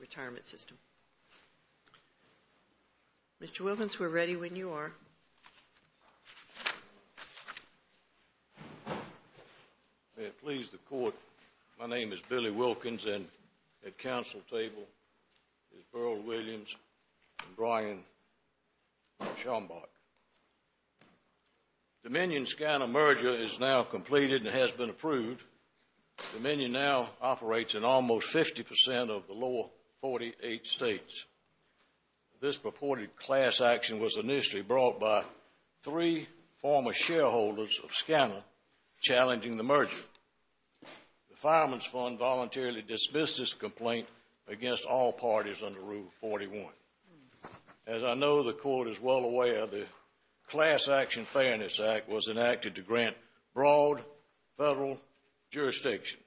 Retirement System. Mr. Wilkens, we're ready when you are. May it please the Court, my name is Billy Wilkens and at Council table is Beryl Williams and Brian Schombach. Dominion Scanner merger is now completed and has been approved. Dominion now operates in almost 50% of the lower 48 states. This purported class action was initially brought by three former shareholders of Scanner challenging the merger. The Fireman's Fund voluntarily dismissed this complaint against all parties under Rule 41. As I know the Court is well aware, the Class Action Fairness Act was enacted to grant broad federal jurisdiction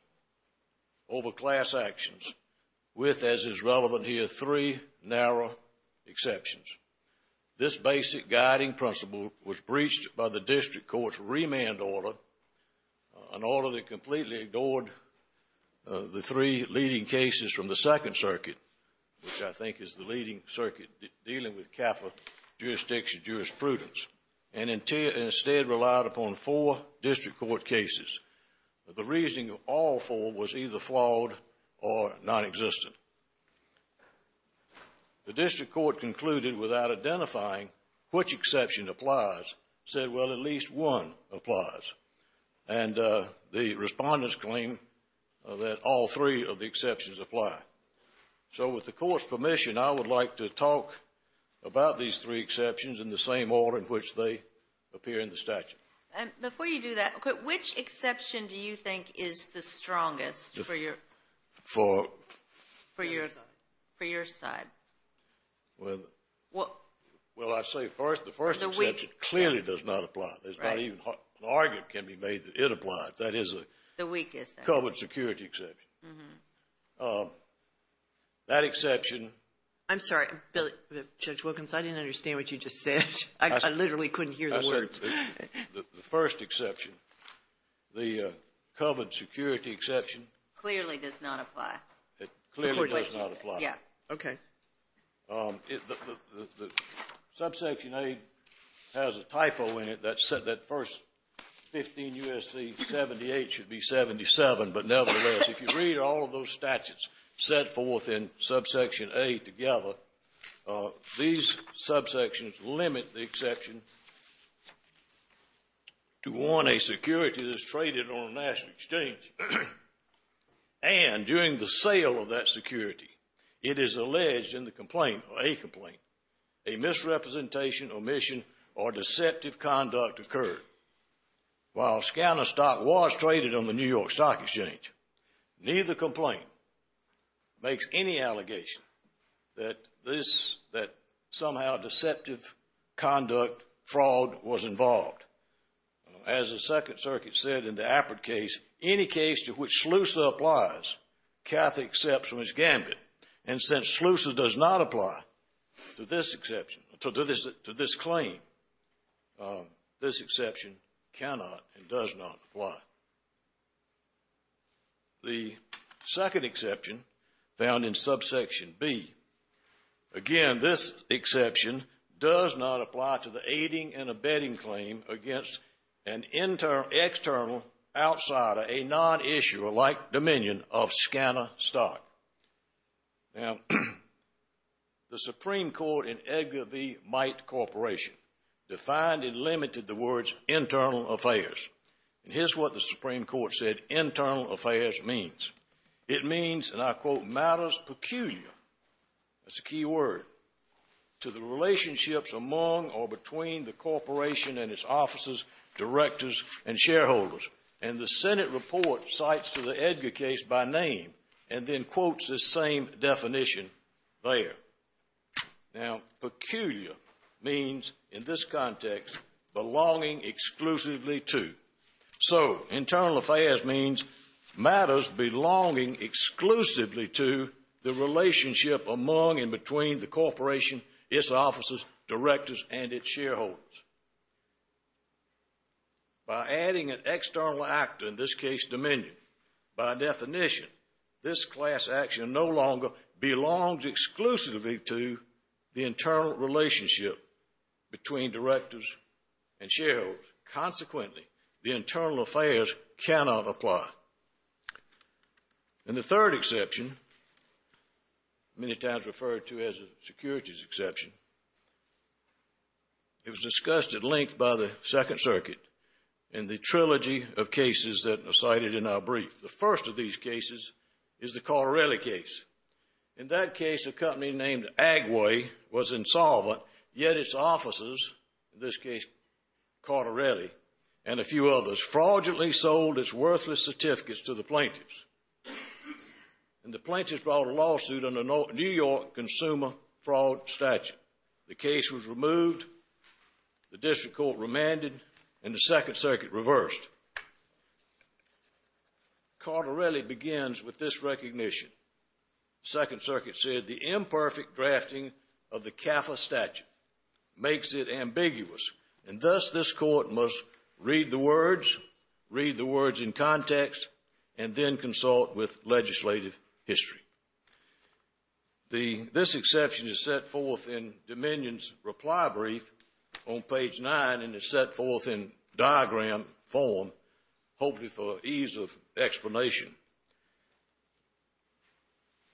over class actions, with, as is relevant here, three narrow exceptions. This basic guiding principle was breached by the District Court's remand order, an order that completely ignored the three leading cases from the Second Circuit, which I think is the leading circuit dealing with capital jurisdiction jurisprudence, and instead relied upon four District Court cases. The reasoning of all four was either flawed or nonexistent. The District Court concluded without identifying which exception applies, said, well, at least one applies. And the respondents claim that all three of the exceptions apply. So with the Court's permission, I would like to talk about these three exceptions in the same order in which they appear in the statute. Before you do that, which exception do you think is the strongest for your side? Well, I'd say first, the first exception clearly does not apply. There's not even an argument can be made that it applies. That is a covered security exception. Mm-hmm. That exception ---- I'm sorry, Judge Wilkins, I didn't understand what you just said. I literally couldn't hear the words. The first exception, the covered security exception ---- Clearly does not apply. It clearly does not apply. Yeah. Okay. The Subsection A has a typo in it that said that first 15 U.S.C. 78 should be 77. But nevertheless, if you read all of those statutes set forth in Subsection A together, these subsections limit the exception to one, a security that's traded on a national exchange. And during the sale of that security, it is alleged in the complaint, or a complaint, a misrepresentation, omission, or deceptive conduct occurred. While a scan of stock was traded on the New York Stock Exchange, neither complaint makes any allegation that somehow deceptive conduct, fraud, was involved. As the Second Circuit said in the Appert case, any case to which SLUSA applies, CATH accepts from its gambit. And since SLUSA does not apply to this claim, this exception cannot and does not apply. The second exception found in Subsection B, again, this exception does not apply to the aiding and abetting claim against an external outsider, a non-issuer-like dominion of scanner stock. Now, the Supreme Court in Edgar V. Might Corporation defined and limited the words internal affairs. And here's what the Supreme Court said internal affairs means. It means, and I quote, matters peculiar, that's a key word, to the relationships among or between the corporation and its offices, directors, and shareholders. And the Senate report cites to the Edgar case by name and then quotes this same definition there. Now, peculiar means, in this context, belonging exclusively to. So, internal affairs means matters belonging exclusively to the relationship among and between the corporation, its offices, directors, and its shareholders. By adding an external actor, in this case dominion, by definition, this class action no longer belongs exclusively to the internal relationship between directors and shareholders. Consequently, the internal affairs cannot apply. And the third exception, many times referred to as a securities exception, it was discussed at length by the Second Circuit in the trilogy of cases that are cited in our brief. The first of these cases is the Corterelli case. In that case, a company named Agway was insolvent, yet its offices, in this case Corterelli and a few others, fraudulently sold its worthless certificates to the plaintiffs. And the plaintiffs brought a lawsuit on a New York consumer fraud statute. The case was removed, the district court remanded, and the Second Circuit reversed. Corterelli begins with this recognition. The Second Circuit said the imperfect drafting of the CAFA statute makes it ambiguous, and thus this court must read the words, read the words in context, and then consult with legislative history. This exception is set forth in Dominion's reply brief on page 9, and it's set forth in diagram form, hopefully for ease of explanation.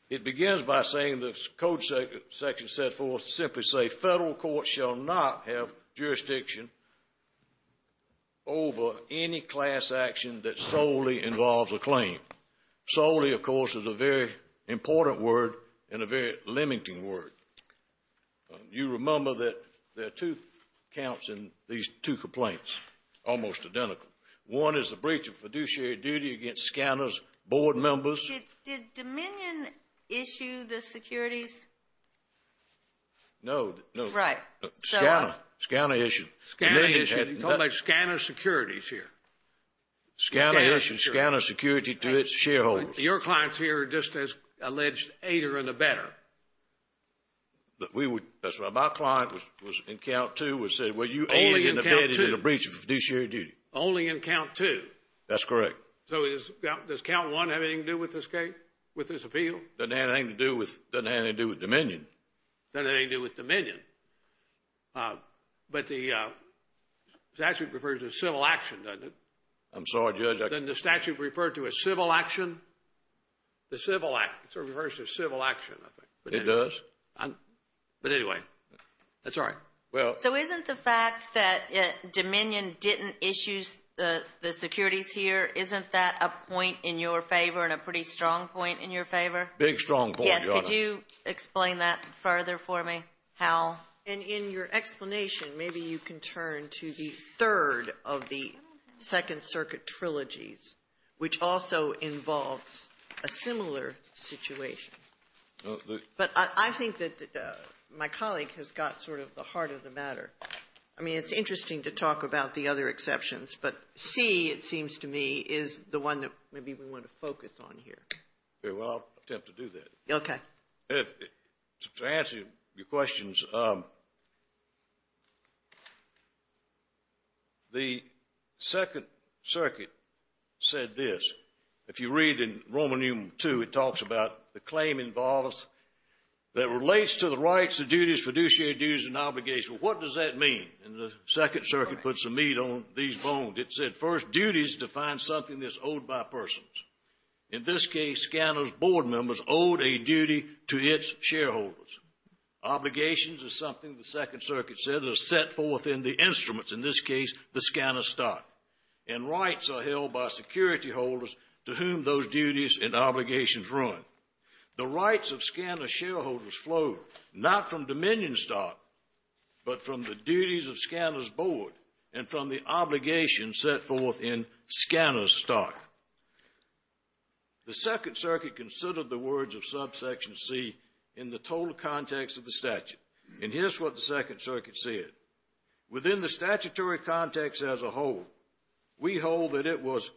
It begins by saying the code section set forth to simply say federal courts shall not have jurisdiction over any class action that solely involves a claim. Solely, of course, is a very important word and a very limiting word. You remember that there are two counts in these two complaints, almost identical. One is the breach of fiduciary duty against Scanner's board members. Did Dominion issue the securities? No, no. Right. Scanner, Scanner issued. Scanner issued. Scanner Securities here. Scanner issued. Scanner Security to its shareholders. Your clients here are just as alleged aider and abetter. That's right. My client was in count two and said, well, you aided and abetted a breach of fiduciary duty. Only in count two. That's correct. So does count one have anything to do with this case, with this appeal? Doesn't have anything to do with Dominion. Doesn't have anything to do with Dominion. But the statute refers to civil action, doesn't it? I'm sorry, Judge. Doesn't the statute refer to a civil action? The Civil Act. It sort of refers to civil action, I think. It does. But anyway, that's all right. So isn't the fact that Dominion didn't issue the securities here, isn't that a point in your favor and a pretty strong point in your favor? Big strong point, Your Honor. Yes, could you explain that further for me, Hal? And in your explanation, maybe you can turn to the third of the Second Circuit trilogies, which also involves a similar situation. But I think that my colleague has got sort of the heart of the matter. I mean, it's interesting to talk about the other exceptions, but C, it seems to me, is the one that maybe we want to focus on here. Well, I'll attempt to do that. Okay. To answer your questions, the Second Circuit said this. If you read in Roman Nume 2, it talks about the claim involves that relates to the rights, the duties, fiduciary duties, and obligation. What does that mean? And the Second Circuit puts the meat on these bones. It said, first, duties define something that's owed by persons. In this case, Scanner's board members owed a duty to its shareholders. Obligations is something the Second Circuit said is set forth in the instruments, in this case, the Scanner stock. And rights are held by security holders to whom those duties and obligations run. The rights of Scanner shareholders flow not from Dominion stock, but from the duties of Scanner's board and from the obligations set forth in Scanner's stock. The Second Circuit considered the words of subsection C in the total context of the statute. And here's what the Second Circuit said. Within the statutory context as a whole, we hold that it was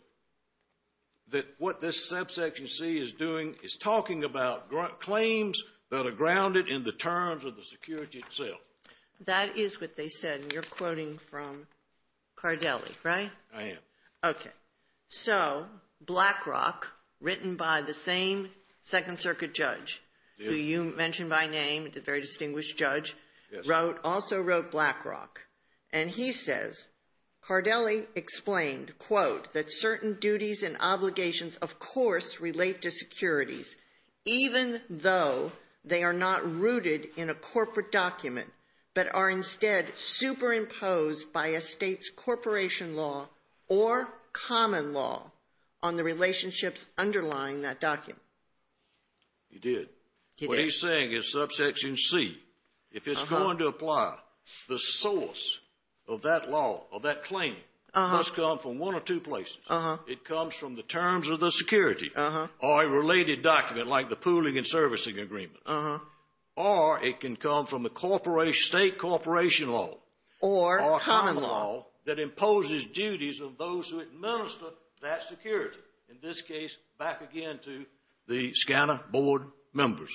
that what this subsection C is doing is talking about claims that are grounded in the terms of the security itself. That is what they said, and you're quoting from Cardelli, right? I am. Okay. So, Blackrock, written by the same Second Circuit judge who you mentioned by name, a very distinguished judge, also wrote Blackrock. And he says, Cardelli explained, quote, that certain duties and obligations, of course, relate to securities, even though they are not rooted in a corporate document, but are instead superimposed by a state's corporation law or common law on the relationships underlying that document. He did. He did. What he's saying is subsection C, if it's going to apply, the source of that law or that claim must come from one or two places. It comes from the terms of the security or a related document like the pooling and servicing agreement. Or it can come from the state corporation law. Or common law. Or common law that imposes duties of those who administer that security. In this case, back again to the SCANA board members.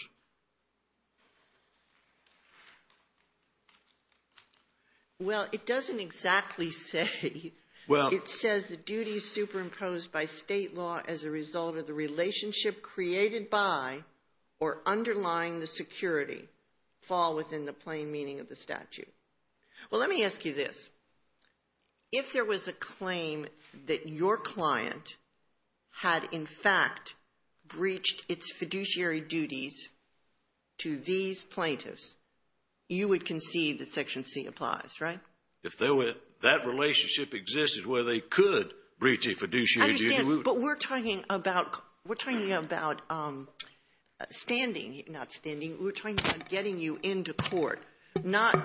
Well, it doesn't exactly say. Well. It says the duties superimposed by state law as a result of the relationship created by or underlying the security fall within the plain meaning of the statute. Well, let me ask you this. If there was a claim that your client had, in fact, breached its fiduciary duties to these plaintiffs, you would concede that section C applies, right? If that relationship existed where they could breach a fiduciary duty. But we're talking about standing, not standing. We're talking about getting you into court, not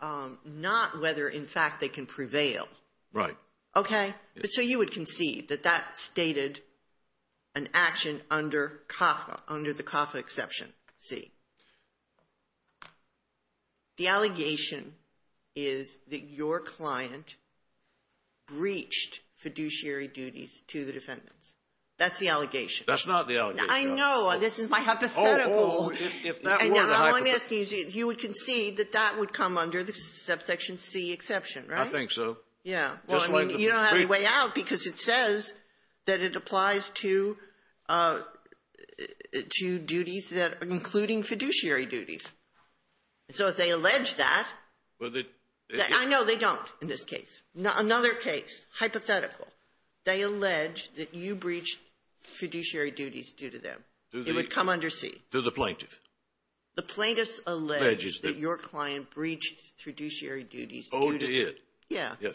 whether, in fact, they can prevail. Right. Okay. So you would concede that that stated an action under CAFA, under the CAFA exception C. The allegation is that your client breached fiduciary duties to the defendants. That's the allegation. That's not the allegation. I know. This is my hypothetical. Oh, if that were the hypothetical. You would concede that that would come under the subsection C exception, right? I think so. Yeah. Well, I mean, you don't have any way out because it says that it applies to duties that are including fiduciary duties. So if they allege that. I know they don't in this case. Another case, hypothetical. They allege that you breached fiduciary duties due to them. It would come under C. To the plaintiff. The plaintiffs allege that your client breached fiduciary duties due to them. Owed to it. Yeah. Yes.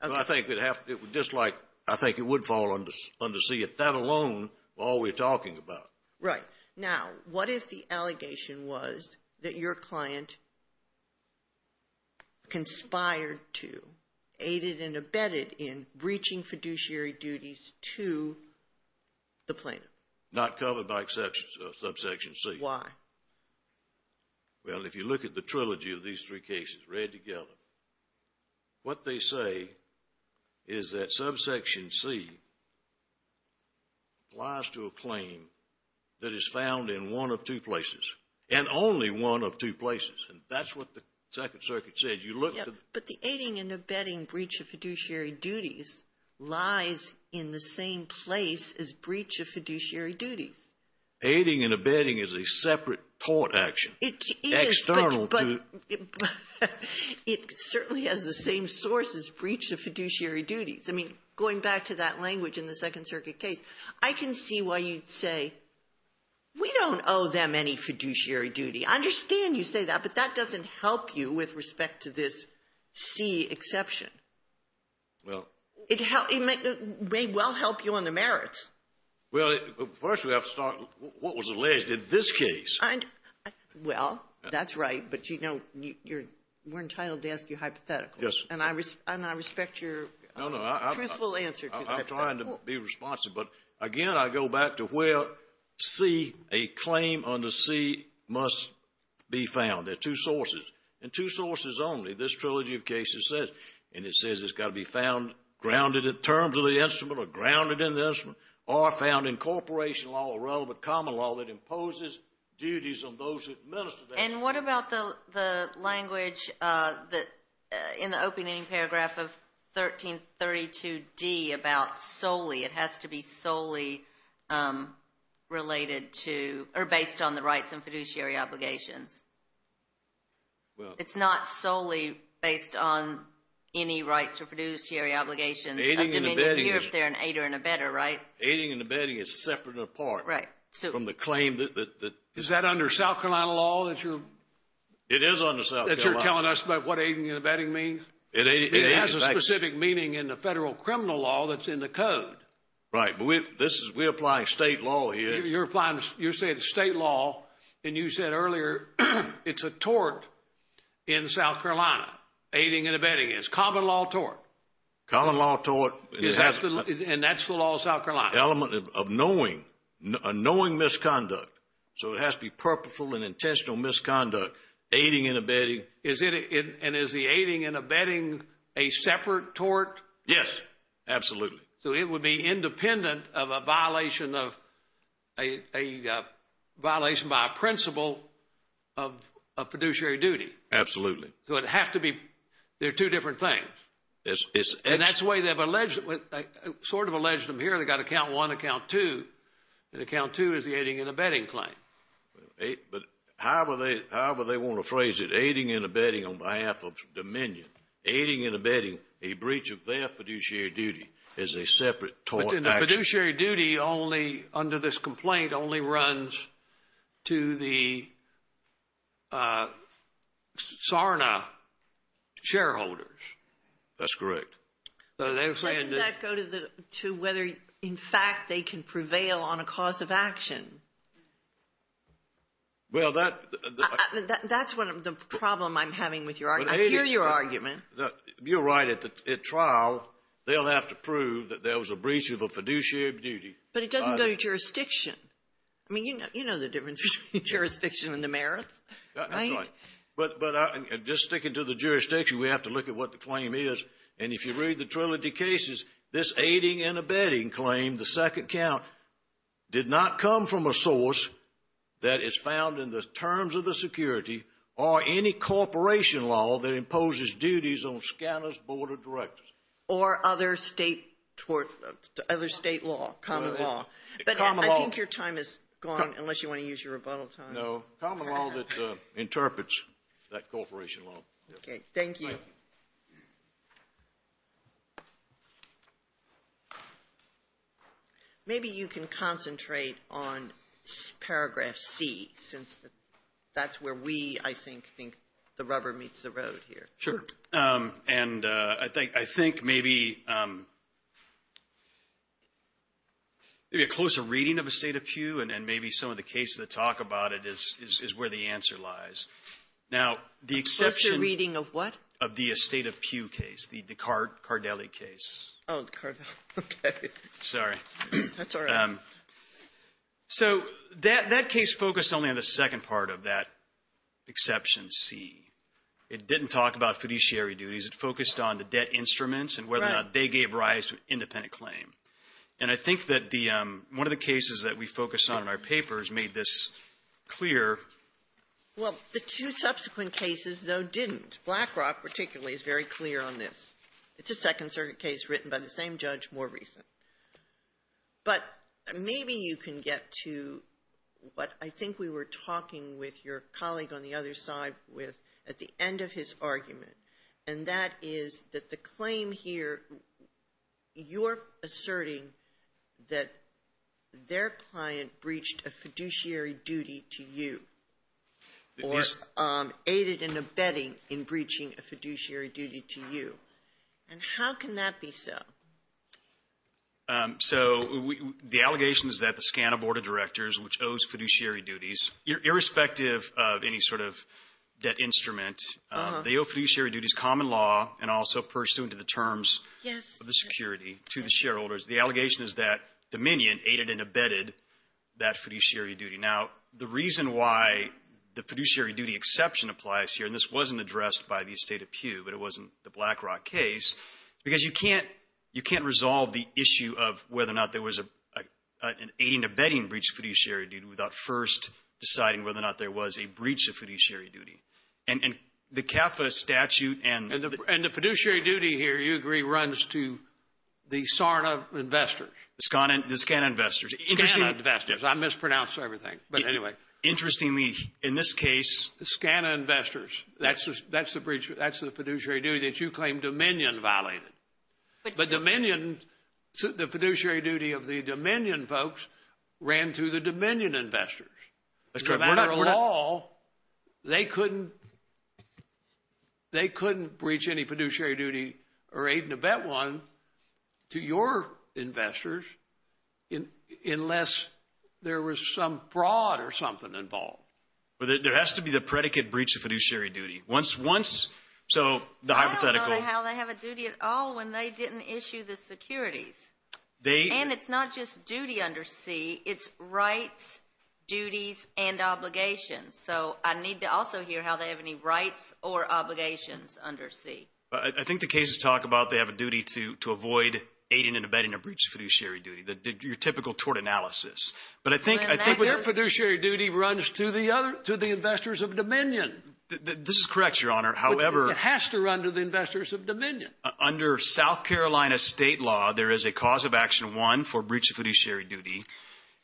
I think it would fall under C. That alone is all we're talking about. Right. Now, what if the allegation was that your client conspired to, aided and abetted in breaching fiduciary duties to the plaintiff? Not covered by subsection C. Why? Well, if you look at the trilogy of these three cases read together, what they say is that subsection C applies to a claim that is found in one of two places and only one of two places. And that's what the Second Circuit said. You look at the ---- Yeah, but the aiding and abetting breach of fiduciary duties lies in the same place as breach of fiduciary duties. Aiding and abetting is a separate court action. It is, but ---- External to ---- It certainly has the same source as breach of fiduciary duties. I mean, going back to that language in the Second Circuit case, I can see why you'd say, we don't owe them any fiduciary duty. I understand you say that, but that doesn't help you with respect to this C exception. Well ---- It may well help you on the merits. Well, first we have to start what was alleged in this case. Well, that's right. But, you know, you're entitled to ask your hypothetical. Yes. And I respect your truthful answer to the hypothetical. No, no. I'm trying to be responsive. But, again, I go back to where C, a claim under C, must be found. There are two sources. And two sources only, this trilogy of cases says. And it says it's got to be found grounded in terms of the instrument or grounded in the instrument or found in corporation law or relevant common law that imposes duties on those who administer that. And what about the language in the opening paragraph of 1332D about solely, it has to be solely related to or based on the rights and fiduciary obligations? It's not solely based on any rights or fiduciary obligations. Aiding and abetting is separate and apart from the claim that. Is that under South Carolina law that you're. It is under South Carolina law. That you're telling us about what aiding and abetting means? It has a specific meaning in the federal criminal law that's in the code. Right. But we're applying state law here. You're saying state law. And you said earlier it's a tort in South Carolina. Aiding and abetting is. Common law tort. Common law tort. And that's the law of South Carolina. Element of knowing. A knowing misconduct. So it has to be purposeful and intentional misconduct. Aiding and abetting. And is the aiding and abetting a separate tort? Yes. Absolutely. So it would be independent of a violation of a violation by a principle of fiduciary duty. Absolutely. So it has to be. They're two different things. And that's the way they've alleged, sort of alleged them here. They've got account one, account two. And account two is the aiding and abetting claim. But however they want to phrase it, aiding and abetting on behalf of Dominion. Aiding and abetting a breach of their fiduciary duty is a separate tort action. But the fiduciary duty only, under this complaint, only runs to the Sarna shareholders. That's correct. Doesn't that go to whether, in fact, they can prevail on a cause of action? Well, that's one of the problems I'm having with your argument. I hear your argument. You're right. At trial, they'll have to prove that there was a breach of a fiduciary duty. But it doesn't go to jurisdiction. I mean, you know the difference between jurisdiction and the merits, right? That's right. But just sticking to the jurisdiction, we have to look at what the claim is. And if you read the trilogy cases, this aiding and abetting claim, the second count, did not come from a source that is found in the terms of the security or any corporation law that imposes duties on scanner's board of directors. Or other state law, common law. But I think your time is gone, unless you want to use your rebuttal time. No. Common law that interprets that corporation law. Okay. Thank you. Okay. Maybe you can concentrate on paragraph C, since that's where we, I think, think the rubber meets the road here. Sure. And I think maybe a closer reading of a state of pew, and maybe some of the cases that talk about it is where the answer lies. Now, the exception of the estate of pew case, the Cardelli case. Oh, Cardelli. Okay. Sorry. That's all right. So that case focused only on the second part of that exception C. It didn't talk about fiduciary duties. It focused on the debt instruments and whether or not they gave rise to an independent claim. And I think that the one of the cases that we focus on in our papers made this clear. Well, the two subsequent cases, though, didn't. Blackrock particularly is very clear on this. It's a Second Circuit case written by the same judge, more recent. But maybe you can get to what I think we were talking with your colleague on the other side with at the end of his argument, and that is that the claim here, you're asserting that their client breached a fiduciary duty to you. Or aided and abetting in breaching a fiduciary duty to you. And how can that be so? So the allegation is that the SCANA Board of Directors, which owes fiduciary duties, irrespective of any sort of debt instrument, they owe fiduciary duties, common law, and also pursuant to the terms of the security to the shareholders. The allegation is that Dominion aided and abetted that fiduciary duty. Now, the reason why the fiduciary duty exception applies here, and this wasn't addressed by the estate of Pew, but it wasn't the Blackrock case, because you can't resolve the issue of whether or not there was an aiding and abetting breach of fiduciary duty without first deciding whether or not there was a breach of fiduciary duty. And the CAFA statute and the – And the fiduciary duty here, you agree, runs to the SARNA investors. The SCANA investors. I mispronounced everything, but anyway. Interestingly, in this case – The SCANA investors. That's the fiduciary duty that you claim Dominion violated. But Dominion – the fiduciary duty of the Dominion folks ran to the Dominion investors. As a matter of law, they couldn't breach any fiduciary duty or aid and abet one to your investors unless there was some fraud or something involved. But there has to be the predicate breach of fiduciary duty. Once – so the hypothetical – I don't know how they have a duty at all when they didn't issue the securities. And it's not just duty under C. It's rights, duties, and obligations. So I need to also hear how they have any rights or obligations under C. I think the cases talk about they have a duty to avoid aiding and abetting a breach of fiduciary duty, your typical tort analysis. But I think – But their fiduciary duty runs to the investors of Dominion. This is correct, Your Honor. However – It has to run to the investors of Dominion. Under South Carolina state law, there is a cause of action one for breach of fiduciary duty,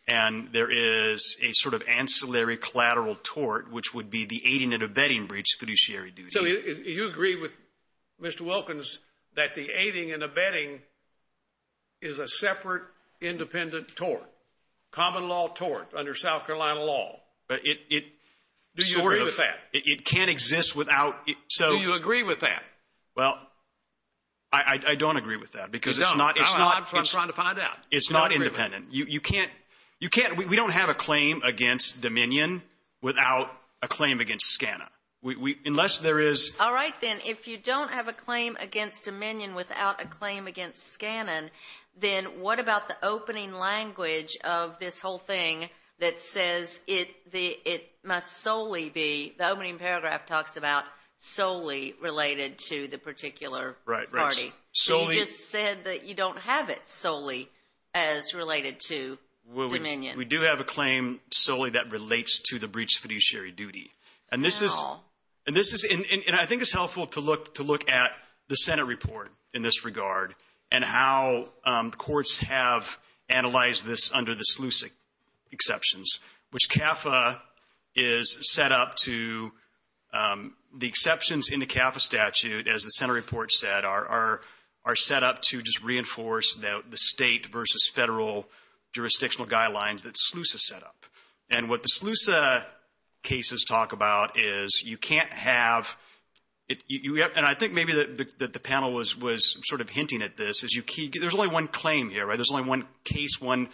and there is a sort of ancillary collateral tort, which would be the aiding and abetting breach of fiduciary duty. So you agree with Mr. Wilkins that the aiding and abetting is a separate independent tort, common law tort under South Carolina law? It sort of – Do you agree with that? It can't exist without – Do you agree with that? Well, I don't agree with that because it's not – You don't? I'm trying to find out. It's not independent. You can't – we don't have a claim against Dominion without a claim against Scana. Unless there is – All right, then. If you don't have a claim against Dominion without a claim against Scana, then what about the opening language of this whole thing that says it must solely be – the opening paragraph talks about solely related to the particular party. Right, right. So you just said that you don't have it solely as related to Dominion. We do have a claim solely that relates to the breach of fiduciary duty. And this is – How? And this is – and I think it's helpful to look at the Senate report in this regard and how courts have analyzed this under the SLUSA exceptions, which CAFA is set up to – the exceptions in the CAFA statute, as the Senate report said, are set up to just reinforce the state versus federal jurisdictional guidelines that SLUSA set up. And what the SLUSA cases talk about is you can't have – and I think maybe that the panel was sort of hinting at this. There's only one claim here, right? There's only one case, one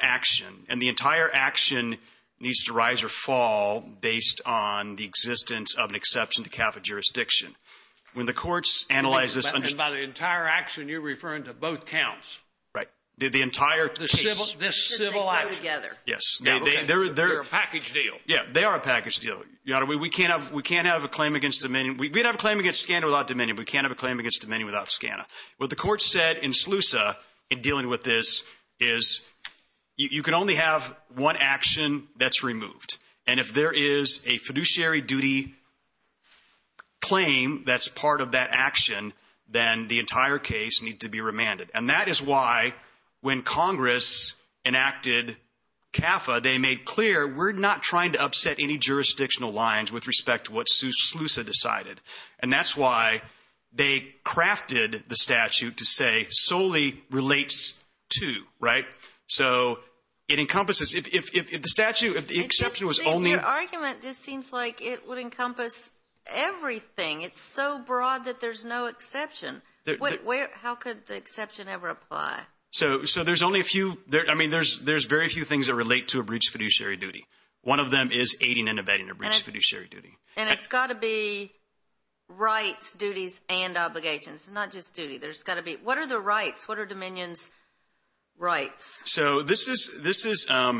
action. And the entire action needs to rise or fall based on the existence of an exception to CAFA jurisdiction. When the courts analyze this – And by the entire action, you're referring to both counts. Right. The entire case. This civil action. They go together. Yes. They're a package deal. Yeah. They are a package deal. We can't have a claim against dominion. We can't have a claim against Scanna without dominion. We can't have a claim against dominion without Scanna. What the courts said in SLUSA in dealing with this is you can only have one action that's removed. And if there is a fiduciary duty claim that's part of that action, then the entire case needs to be remanded. And that is why when Congress enacted CAFA, they made clear, we're not trying to upset any jurisdictional lines with respect to what SLUSA decided. And that's why they crafted the statute to say solely relates to, right? So it encompasses. If the statute, if the exception was only – Your argument just seems like it would encompass everything. It's so broad that there's no exception. How could the exception ever apply? So there's only a few. I mean, there's very few things that relate to a breach of fiduciary duty. One of them is aiding and abetting a breach of fiduciary duty. And it's got to be rights, duties, and obligations. It's not just duty. There's got to be – what are the rights? What are dominion's rights? So this is the issue that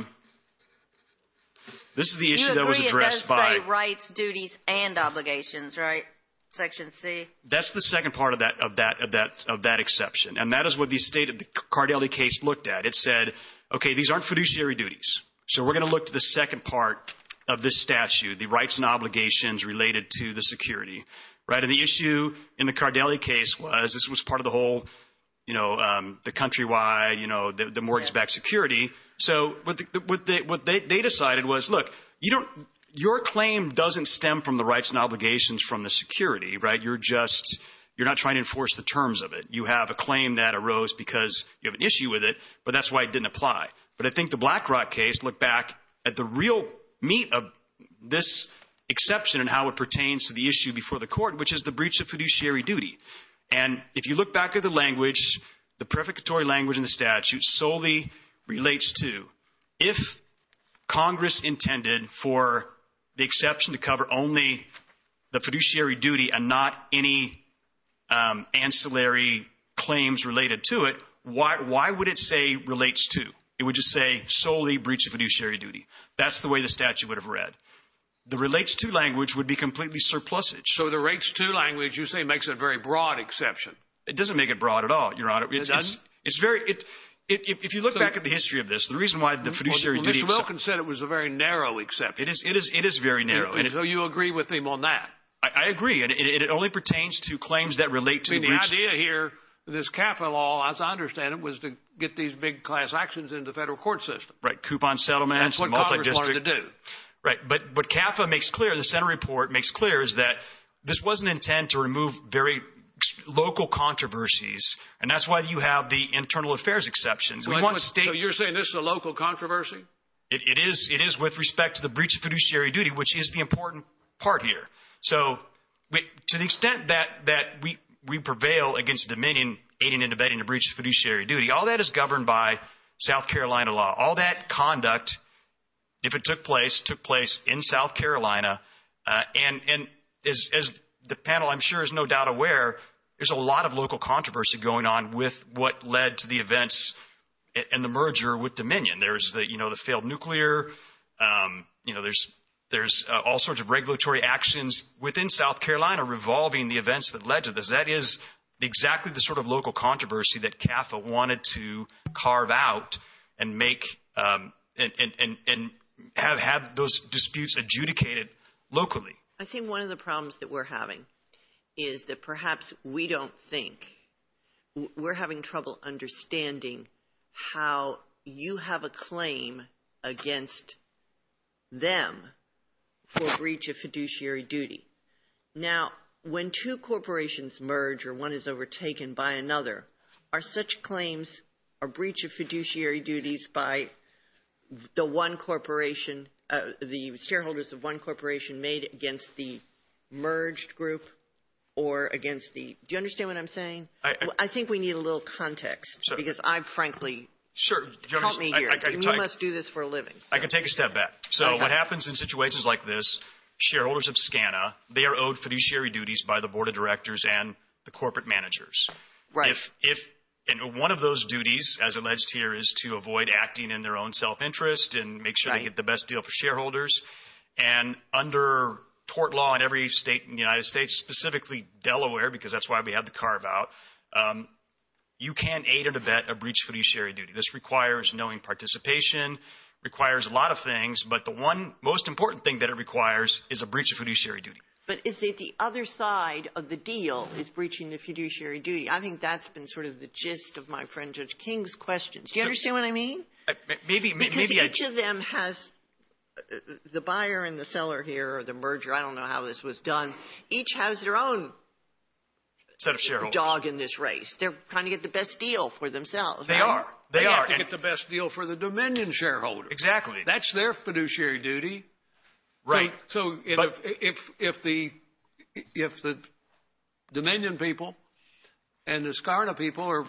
was addressed by – You agree it does say rights, duties, and obligations, right, Section C? That's the second part of that exception. And that is what the Cardelli case looked at. It said, okay, these aren't fiduciary duties, so we're going to look to the second part of this statute, the rights and obligations related to the security, right? And the issue in the Cardelli case was this was part of the whole, you know, the countrywide, you know, the mortgage-backed security. So what they decided was, look, your claim doesn't stem from the rights and obligations from the security, right? You're just – you're not trying to enforce the terms of it. You have a claim that arose because you have an issue with it, but that's why it didn't apply. But I think the Blackrock case looked back at the real meat of this exception and how it pertains to the issue before the court, which is the breach of fiduciary duty. And if you look back at the language, the prefiguratory language in the statute solely relates to if Congress intended for the exception to cover only the fiduciary duty and not any ancillary claims related to it, why would it say relates to? It would just say solely breach of fiduciary duty. That's the way the statute would have read. The relates to language would be completely surplusage. So the rates to language, you say, makes it a very broad exception. It doesn't make it broad at all, Your Honor. It doesn't? It's very – if you look back at the history of this, the reason why the fiduciary duty – Well, Mr. Wilkins said it was a very narrow exception. It is very narrow. So you agree with him on that? I agree. It only pertains to claims that relate to – The idea here, this CAFA law, as I understand it, was to get these big class actions into the federal court system. Right. Coupon settlements and multi-district. That's what Congress wanted to do. Right. But CAFA makes clear, the Senate report makes clear, is that this was an intent to remove very local controversies, and that's why you have the internal affairs exceptions. So you're saying this is a local controversy? It is with respect to the breach of fiduciary duty, which is the important part here. So to the extent that we prevail against Dominion aiding and abetting the breach of fiduciary duty, all that is governed by South Carolina law. All that conduct, if it took place, took place in South Carolina. And as the panel, I'm sure, is no doubt aware, there's a lot of local controversy going on with what led to the events and the merger with Dominion. There's the failed nuclear. There's all sorts of regulatory actions within South Carolina revolving the events that led to this. That is exactly the sort of local controversy that CAFA wanted to carve out and have those disputes adjudicated locally. I think one of the problems that we're having is that perhaps we don't think, we're having trouble understanding how you have a claim against them for breach of fiduciary duty. Now, when two corporations merge or one is overtaken by another, are such claims a breach of fiduciary duties by the one corporation, the shareholders of one corporation made against the merged group or against the, do you understand what I'm saying? I think we need a little context because I'm frankly, help me here. You must do this for a living. I can take a step back. So what happens in situations like this, shareholders of SCANA, they are owed fiduciary duties by the board of directors and the corporate managers. And one of those duties, as alleged here, is to avoid acting in their own self-interest and make sure they get the best deal for shareholders. And under tort law in every state in the United States, specifically Delaware, because that's why we have the carve-out, you can't aid and abet a breach of fiduciary duty. This requires knowing participation, requires a lot of things, but the one most important thing that it requires is a breach of fiduciary duty. But is it the other side of the deal is breaching the fiduciary duty? I think that's been sort of the gist of my friend Judge King's questions. Do you understand what I mean? Because each of them has the buyer and the seller here, or the merger, I don't know how this was done, each has their own dog in this race. They're trying to get the best deal for themselves. They are. They have to get the best deal for the Dominion shareholder. Exactly. That's their fiduciary duty. Right. So if the Dominion people and the SCANA people are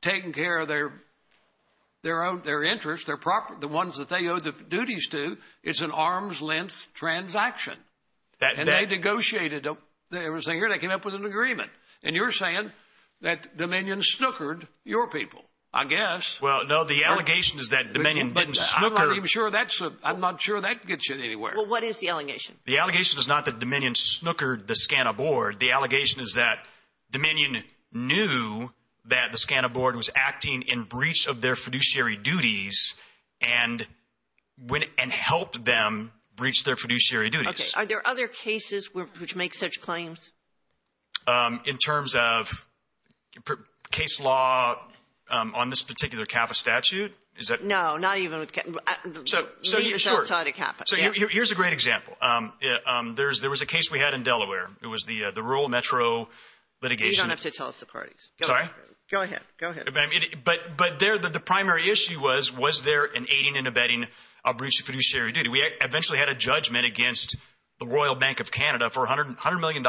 taking care of their interests, the ones that they owe the duties to, it's an arm's-length transaction. And they negotiated. They came up with an agreement. And you're saying that Dominion snookered your people, I guess. Well, no, the allegation is that Dominion didn't snooker. I'm not sure that gets you anywhere. Well, what is the allegation? The allegation is not that Dominion snookered the SCANA board. The allegation is that Dominion knew that the SCANA board was acting in breach of their fiduciary duties and helped them breach their fiduciary duties. Okay. Are there other cases which make such claims? In terms of case law on this particular CAPA statute? No, not even with CAPA. So here's a great example. There was a case we had in Delaware. It was the rural metro litigation. You don't have to tell us the parties. Sorry? Go ahead. But the primary issue was, was there an aiding and abetting of breach of fiduciary duty? We eventually had a judgment against the Royal Bank of Canada for $100 million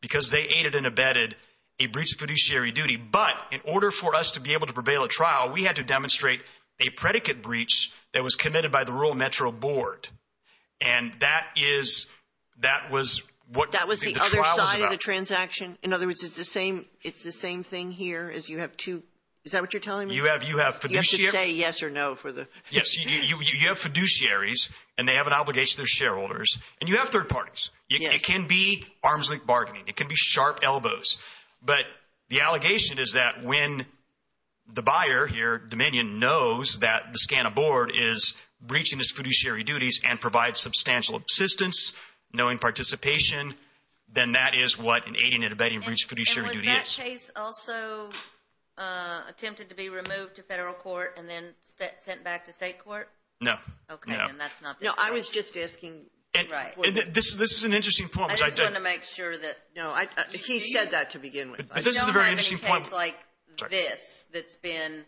because they aided and abetted a breach of fiduciary duty. But in order for us to be able to prevail at trial, we had to demonstrate a predicate breach that was committed by the rural metro board. And that is, that was what the trial was about. That was the other side of the transaction? In other words, it's the same thing here as you have two, is that what you're telling me? You have fiduciary. You have to say yes or no for the. Yes. You have fiduciaries, and they have an obligation to their shareholders. And you have third parties. Yes. It can be arms-length bargaining. It can be sharp elbows. But the allegation is that when the buyer here, Dominion, knows that the SCANA board is breaching its fiduciary duties and provides substantial assistance, knowing participation, then that is what an aiding and abetting of breach of fiduciary duty is. And was that case also attempted to be removed to federal court and then sent back to state court? No. Okay, then that's not the case. No, I was just asking. This is an interesting point. I just wanted to make sure that, no, he said that to begin with. But this is a very interesting point. You don't have any case like this that's been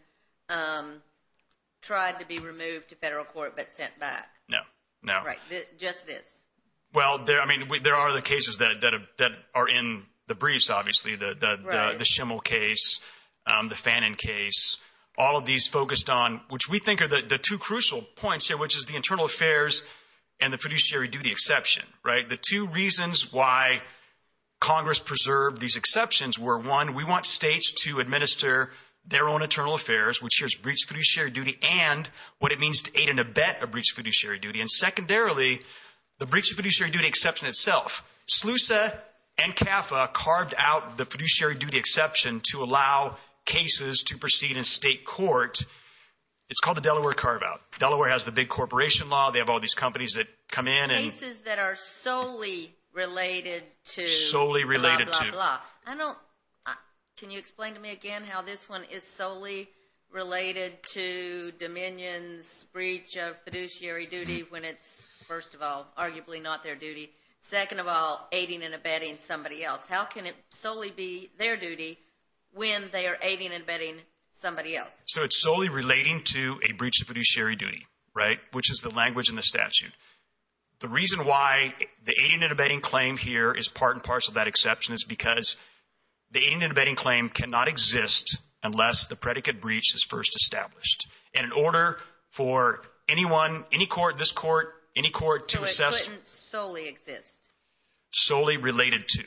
tried to be removed to federal court but sent back. No, no. Right, just this. Well, I mean, there are other cases that are in the briefs, obviously, the Schimmel case, the Fanon case, all of these focused on, which we think are the two crucial points here, which is the internal affairs and the fiduciary duty exception, right? The two reasons why Congress preserved these exceptions were, one, we want states to administer their own internal affairs, which is breach of fiduciary duty, and what it means to aid and abet a breach of fiduciary duty, and secondarily, the breach of fiduciary duty exception itself. SLUSA and CAFA carved out the fiduciary duty exception to allow cases to proceed in state court. It's called the Delaware carve-out. Delaware has the big corporation law. They have all these companies that come in. Cases that are solely related to blah, blah, blah. Can you explain to me again how this one is solely related to Dominion's breach of fiduciary duty when it's, first of all, arguably not their duty, second of all, aiding and abetting somebody else? How can it solely be their duty when they are aiding and abetting somebody else? So it's solely relating to a breach of fiduciary duty, right, which is the language in the statute. The reason why the aiding and abetting claim here is part and parcel of that exception is because the aiding and abetting claim cannot exist unless the predicate breach is first established. And in order for anyone, any court, this court, any court to assess. So it couldn't solely exist. Solely related to.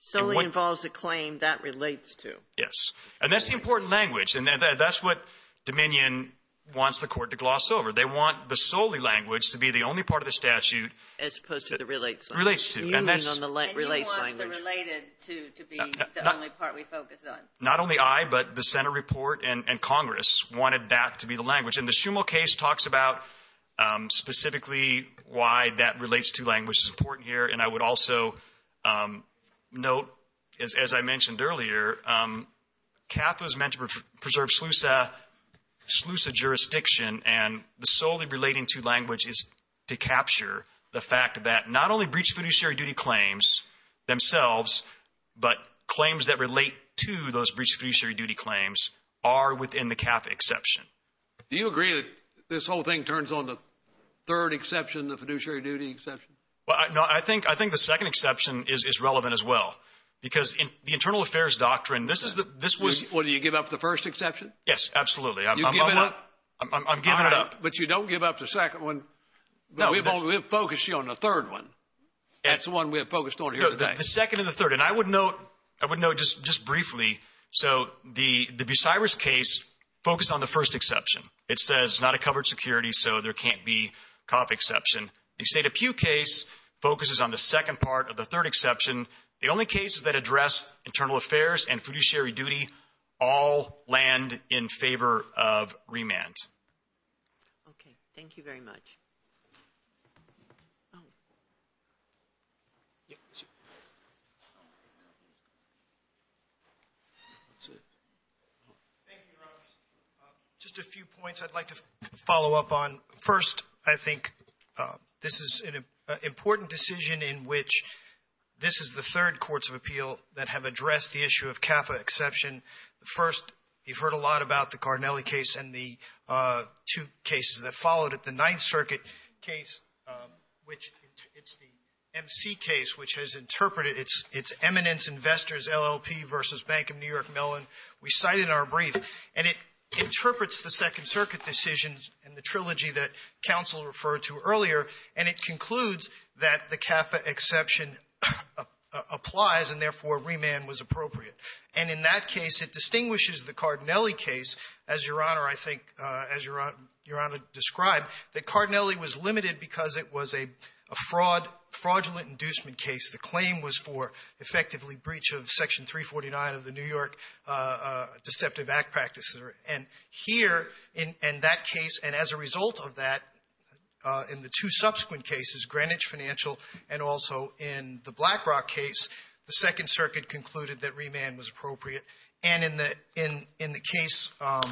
Solely involves a claim that relates to. Yes. And that's the important language, and that's what Dominion wants the court to gloss over. They want the solely language to be the only part of the statute. As opposed to the relates language. Relates to. You mean on the relates language. And you want the related to be the only part we focus on. Not only I, but the Senate report and Congress wanted that to be the language. And the Schumel case talks about specifically why that relates to language is important here, and I would also note, as I mentioned earlier, CAF was meant to preserve SLUSA jurisdiction, and the solely relating to language is to capture the fact that not only breached fiduciary duty claims themselves, but claims that relate to those breached fiduciary duty claims are within the CAF exception. Do you agree that this whole thing turns on the third exception, the fiduciary duty exception? Well, I think the second exception is relevant as well, because in the internal affairs doctrine, this is the, this was. Well, do you give up the first exception? Yes, absolutely. I'm giving it up. But you don't give up the second one. We have focused on the third one. That's the one we have focused on here today. The second and the third. And I would note, I would note just briefly. So the Bucyrus case focused on the first exception. It says not a covered security, so there can't be CAF exception. The State of Pew case focuses on the second part of the third exception. The only cases that address internal affairs and fiduciary duty all land in favor of remand. Okay. Thank you very much. Thank you, Robert. Just a few points I'd like to follow up on. First, I think this is an important decision in which this is the third courts of appeal that have addressed the issue of CAF exception. First, you've heard a lot about the Carnelli case and the two cases that followed it. The Ninth Circuit case, which it's the MC case, which has interpreted its eminence investors, LLP versus Bank of New York, Mellon. We cite it in our brief. And it interprets the Second Circuit decisions and the trilogy that counsel referred to earlier, and it concludes that the CAF exception applies and, therefore, remand was appropriate. And in that case, it distinguishes the Cardinelli case, as Your Honor, I think, as Your Honor described, that Cardinelli was limited because it was a fraud, fraudulent inducement case. The claim was for, effectively, breach of Section 349 of the New York Deceptive Act Practices. And here, in that case, and as a result of that, in the two subsequent cases, Greenwich Financial and also in the BlackRock case, the Second Circuit concluded that remand was appropriate. And in the case of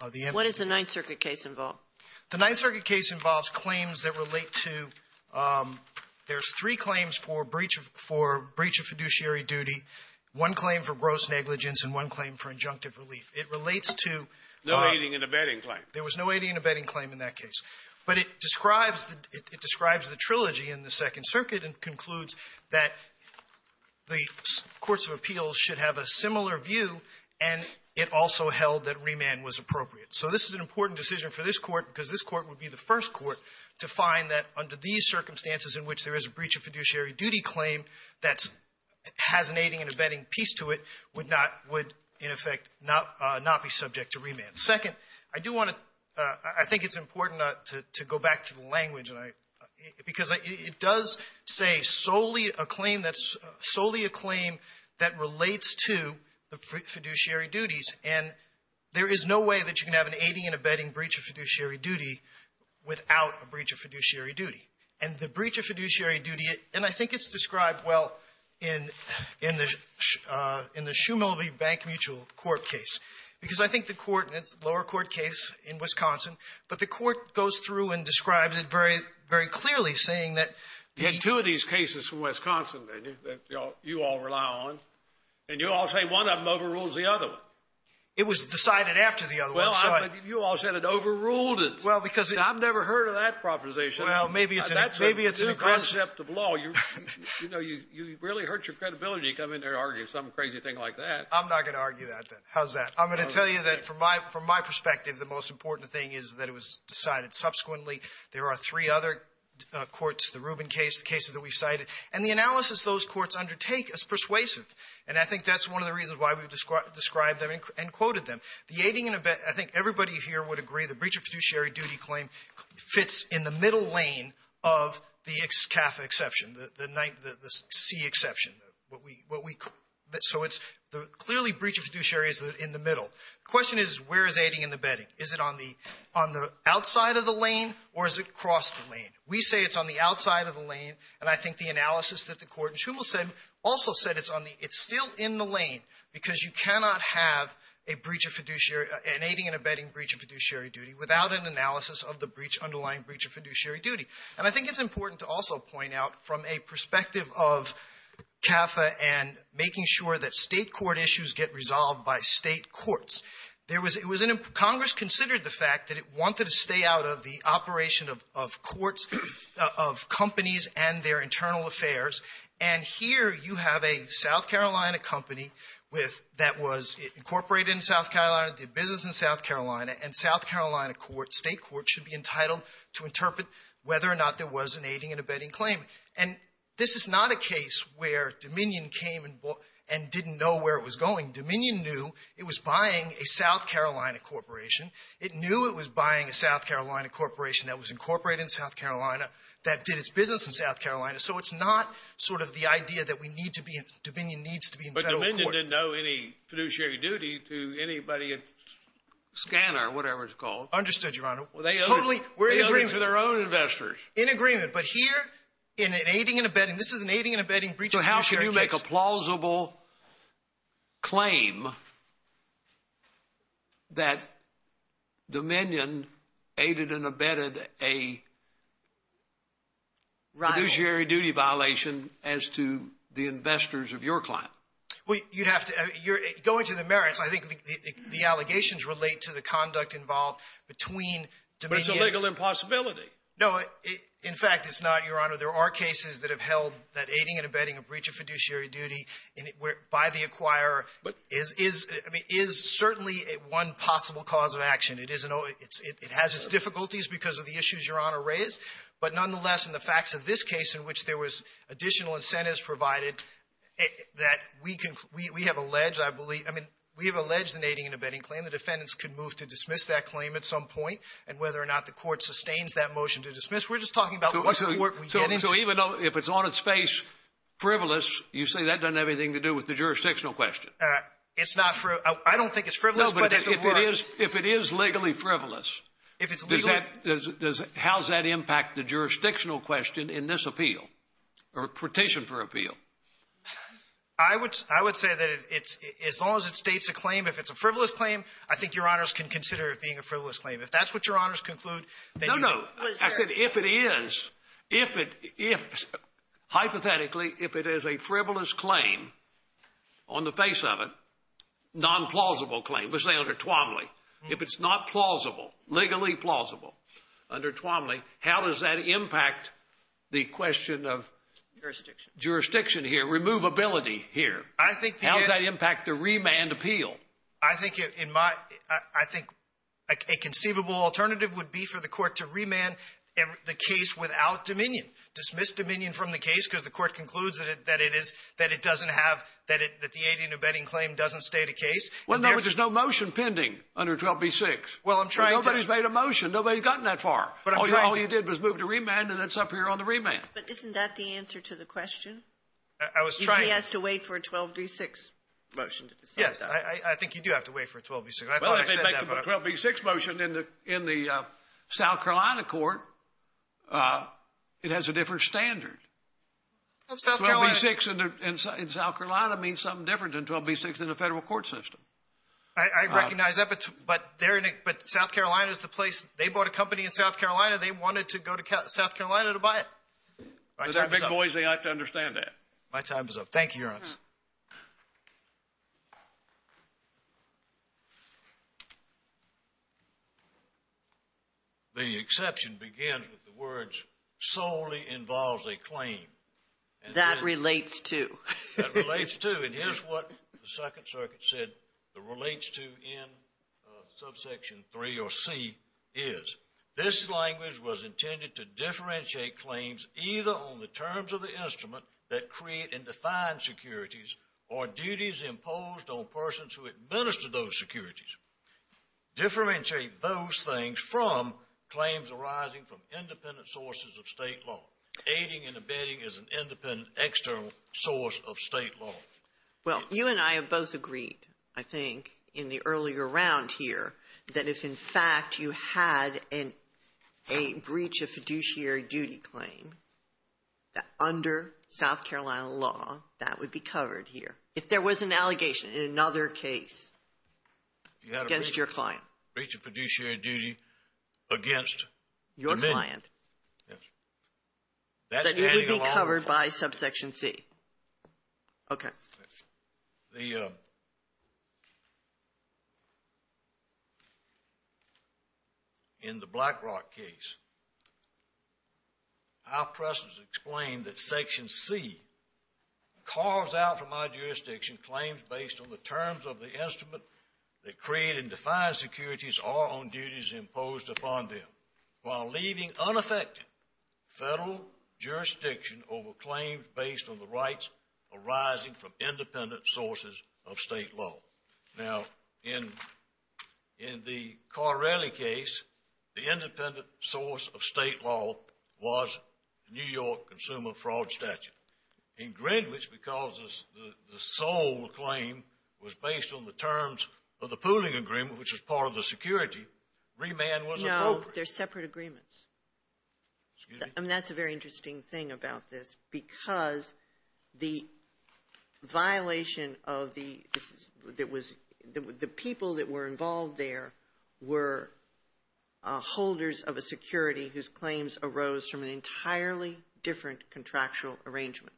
the MC case. What does the Ninth Circuit case involve? The Ninth Circuit case involves claims that relate to there's three claims for breach of for breach of fiduciary duty, one claim for gross negligence, and one claim for injunctive relief. It relates to the abetting claim. There was no aiding and abetting claim in that case. But it describes the trilogy in the Second Circuit and concludes that the courts of appeals should have a similar view, and it also held that remand was appropriate. So this is an important decision for this Court, because this Court would be the first Court to find that under these circumstances in which there is a breach of fiduciary duty claim that has an aiding and abetting piece to it, would not would, in effect, not be subject to remand. Second, I do want to – I think it's important to go back to the language, and I – because it does say solely a claim that's – solely a claim that relates to the fiduciary duties, and there is no way that you can have an aiding and abetting breach of fiduciary duty without a breach of fiduciary duty. And the breach of fiduciary duty – and I think it's described well in – in the – in the Schumel v. Bank Mutual court case, because I think the court – and it's a lower court case in Wisconsin, but the court goes through and describes it very – very clearly, saying that the – The two of these cases from Wisconsin, then, that you all – you all rely on, and you all say one of them overrules the other one. It was decided after the other one, so I – Well, you all said it overruled it. Well, because it – I've never heard of that proposition. Well, maybe it's an – maybe it's an aggressive – That's a new concept of law. You know, you really hurt your credibility to come in there and argue some crazy thing like that. I'm not going to argue that, then. How's that? I'm going to tell you that, from my – from my perspective, the most important thing is that it was decided subsequently. There are three other courts, the Rubin case, the cases that we've cited. And the analysis those courts undertake is persuasive. And I think that's one of the reasons why we've described them and quoted them. The aiding and abetting – I think everybody here would agree the breach of fiduciary duty claim fits in the middle lane of the CAFA exception, the C exception, what we – so it's – clearly, breach of fiduciary is in the middle. The question is, where is aiding and abetting? Is it on the – on the outside of the lane, or is it across the lane? We say it's on the outside of the lane, and I think the analysis that the court in Shumel said also said it's on the – it's still in the lane because you cannot have a breach of fiduciary – an aiding and abetting breach of fiduciary duty without an analysis of the breach – underlying breach of fiduciary duty. And I think it's important to also point out, from a perspective of CAFA and making sure that State court issues get resolved by State courts, there was – it was an – Congress considered the fact that it wanted to stay out of the operation of – of courts, of companies and their internal affairs, and here you have a South Carolina company with – that was incorporated in South Carolina, did business in South Carolina, and South Carolina court, State court, should be entitled to interpret whether or not there was an aiding and abetting claim. And this is not a case where Dominion came and didn't know where it was going. Dominion knew it was buying a South Carolina corporation. It knew it was buying a South Carolina corporation that was incorporated in South Carolina that did its business in South Carolina. So it's not sort of the idea that we need to be – Dominion needs to be in federal court. But Dominion didn't owe any fiduciary duty to anybody at Scanner or whatever it's called. Understood, Your Honor. Well, they owe – Totally. They owe it to their own investors. In agreement. But here, in an aiding and abetting – this is an aiding and abetting breach of fiduciary case. But how can you make a plausible claim that Dominion aided and abetted a fiduciary duty violation as to the investors of your client? Well, you'd have to – going to the merits, I think the allegations relate to the conduct involved between Dominion – But it's a legal impossibility. No. In fact, it's not, Your Honor. There are cases that have held that aiding and abetting a breach of fiduciary duty by the acquirer is – I mean, is certainly one possible cause of action. It is an – it has its difficulties because of the issues Your Honor raised. But nonetheless, in the facts of this case in which there was additional incentives provided, that we can – we have alleged, I believe – I mean, we have alleged an aiding and abetting claim. The defendants could move to dismiss that claim at some point. And whether or not the Court sustains that motion to dismiss, we're just talking about which court we get into. So even though – if it's on its face frivolous, you say that doesn't have anything to do with the jurisdictional question? It's not – I don't think it's frivolous, but if it were – No, but if it is – if it is legally frivolous, does that – how does that impact the jurisdictional question in this appeal or petition for appeal? I would say that it's – as long as it states a claim, if it's a frivolous claim, I think Your Honors can consider it being a frivolous claim. If that's what Your Honors conclude, then you – No, I said if it is – if it – hypothetically, if it is a frivolous claim on the face of it, non-plausible claim, let's say under Twomley, if it's not plausible, legally plausible under Twomley, how does that impact the question of – Jurisdiction. Jurisdiction here, removability here. I think – How does that impact the remand appeal? I think in my – I think a conceivable alternative would be for the Court to remand the case without dominion, dismiss dominion from the case because the Court concludes that it is – that it doesn't have – that the 18 abetting claim doesn't state a case. Well, no, but there's no motion pending under 12b-6. Well, I'm trying to – Nobody's made a motion. Nobody's gotten that far. But I'm trying to – All you did was move to remand, and it's up here on the remand. But isn't that the answer to the question? If he has to wait for a 12b-6 motion to decide that. Yes, I think you do have to wait for a 12b-6. I thought I said that, but – Well, let me make the 12b-6 motion in the South Carolina court. It has a different standard. Of South Carolina? 12b-6 in South Carolina means something different than 12b-6 in the federal court system. I recognize that, but they're – but South Carolina is the place – they bought a company in South Carolina. They wanted to go to South Carolina to buy it. They're big boys. They have to understand that. My time is up. Thank you, Your Honor. Thank you. The exception begins with the words, solely involves a claim. That relates to. That relates to. And here's what the Second Circuit said the relates to in subsection 3 or C is. This language was intended to differentiate claims either on the terms of the instrument that create and define securities or duties imposed on persons who administer those securities. Differentiate those things from claims arising from independent sources of state law. Aiding and abetting is an independent external source of state law. Well, you and I have both agreed, I think, in the earlier round here, that if in fact you had a breach of fiduciary duty claim, that under South Carolina law, that would be covered here. If there was an allegation in another case against your client. You had a breach of fiduciary duty against. Your client. Yes. That would be covered by subsection C. Okay. The. In the Black Rock case. Our presence explained that section C. Calls out for my jurisdiction claims based on the terms of the instrument. That create and define securities are on duties imposed upon them. While leaving unaffected federal jurisdiction over claims based on the rights arising from independent sources of state law. Now, in the Carrelly case, the independent source of state law was New York consumer fraud statute. In Greenwich, because the sole claim was based on the terms of the pooling agreement, which was part of the security, remand was appropriate. No, they're separate agreements. And that's a very interesting thing about this. Because the violation of the. That was the people that were involved. There were. Holders of a security whose claims arose from an entirely different contractual arrangement.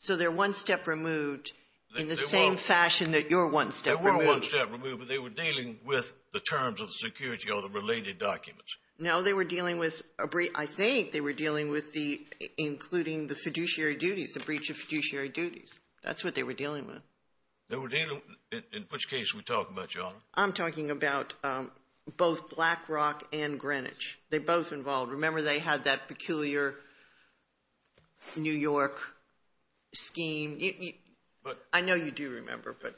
So they're one step removed in the same fashion that you're one step. But they were dealing with the terms of security or the related documents. No, they were dealing with a brief. I think they were dealing with the including the fiduciary duties, a breach of fiduciary duties. That's what they were dealing with. They were dealing in which case we talk much on. I'm talking about both Black Rock and Greenwich. They're both involved. Remember, they had that peculiar. New York scheme. I know you do remember, but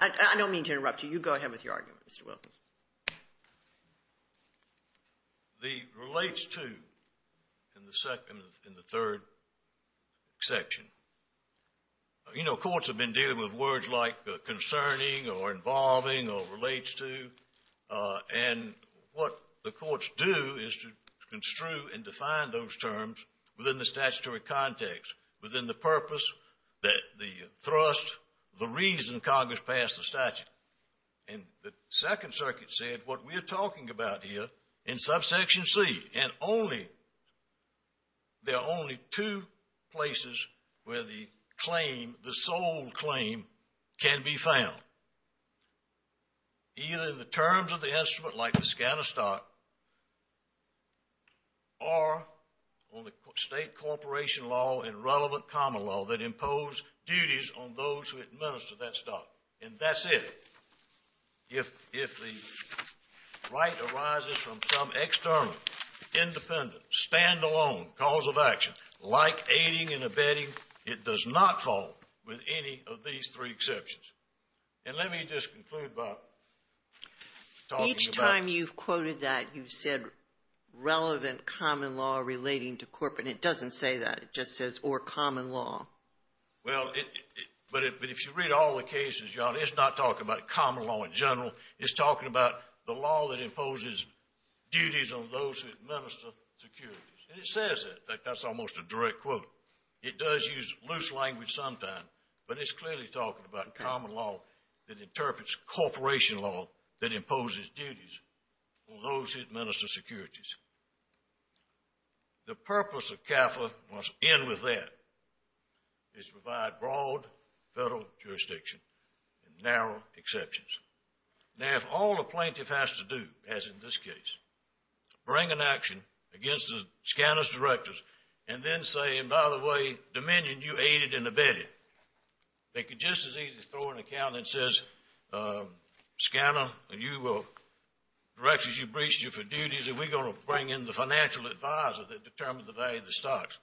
I don't mean to interrupt you. You go ahead with your argument, Mr. Wilkins. The relates to in the second in the third section. You know, courts have been dealing with words like concerning or involving or relates to. And what the courts do is to construe and define those terms within the statutory context, within the purpose, the thrust, the reason Congress passed the statute. And the Second Circuit said what we're talking about here in subsection C. And only, there are only two places where the claim, the sole claim can be found. Either in the terms of the instrument like the scan of stock or on the state corporation law and relevant common law that impose duties on those who administer that stock. And that's it. If the right arises from some external, independent, stand-alone cause of action like aiding and abetting, it does not fall with any of these three exceptions. And let me just conclude by talking about this. Each time you've quoted that, you've said relevant common law relating to corporate. And it doesn't say that. It just says or common law. Well, but if you read all the cases, it's not talking about common law in general. It's talking about the law that imposes duties on those who administer securities. And it says that. That's almost a direct quote. It does use loose language sometimes, but it's clearly talking about common law that interprets corporation law that imposes duties on those who administer securities. The purpose of CAFA must end with that. It's to provide broad federal jurisdiction and narrow exceptions. Now, if all a plaintiff has to do, as in this case, bring an action against the scanner's directors and then say, and by the way, Dominion, you aided and abetted, they could just as easily throw an account that says, scanner, you will, directors, you breached you for duties, and we're going to bring in the financial advisor that determines the value of the stocks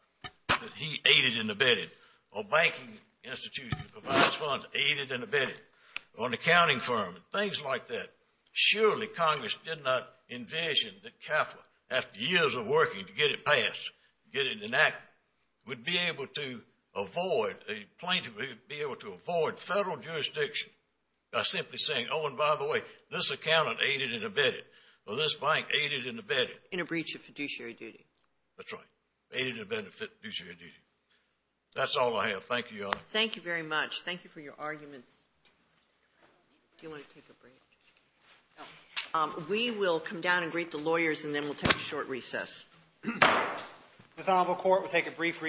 that he aided and abetted, or banking institution that provides funds, aided and abetted, or an accounting firm, things like that. Surely Congress did not envision that CAFA, after years of working to get it passed, get it enacted, would be able to avoid, a plaintiff would be able to avoid federal jurisdiction by simply saying, oh, and by the way, this accountant aided and abetted, or this bank aided and abetted. In a breach of fiduciary duty. That's right. Aided and abetted fiduciary duty. That's all I have. Thank you, Your Honor. Thank you very much. Thank you for your arguments. Do you want to take a break? No. We will come down and greet the lawyers, and then we'll take a short recess. This honorable court will take a brief recess.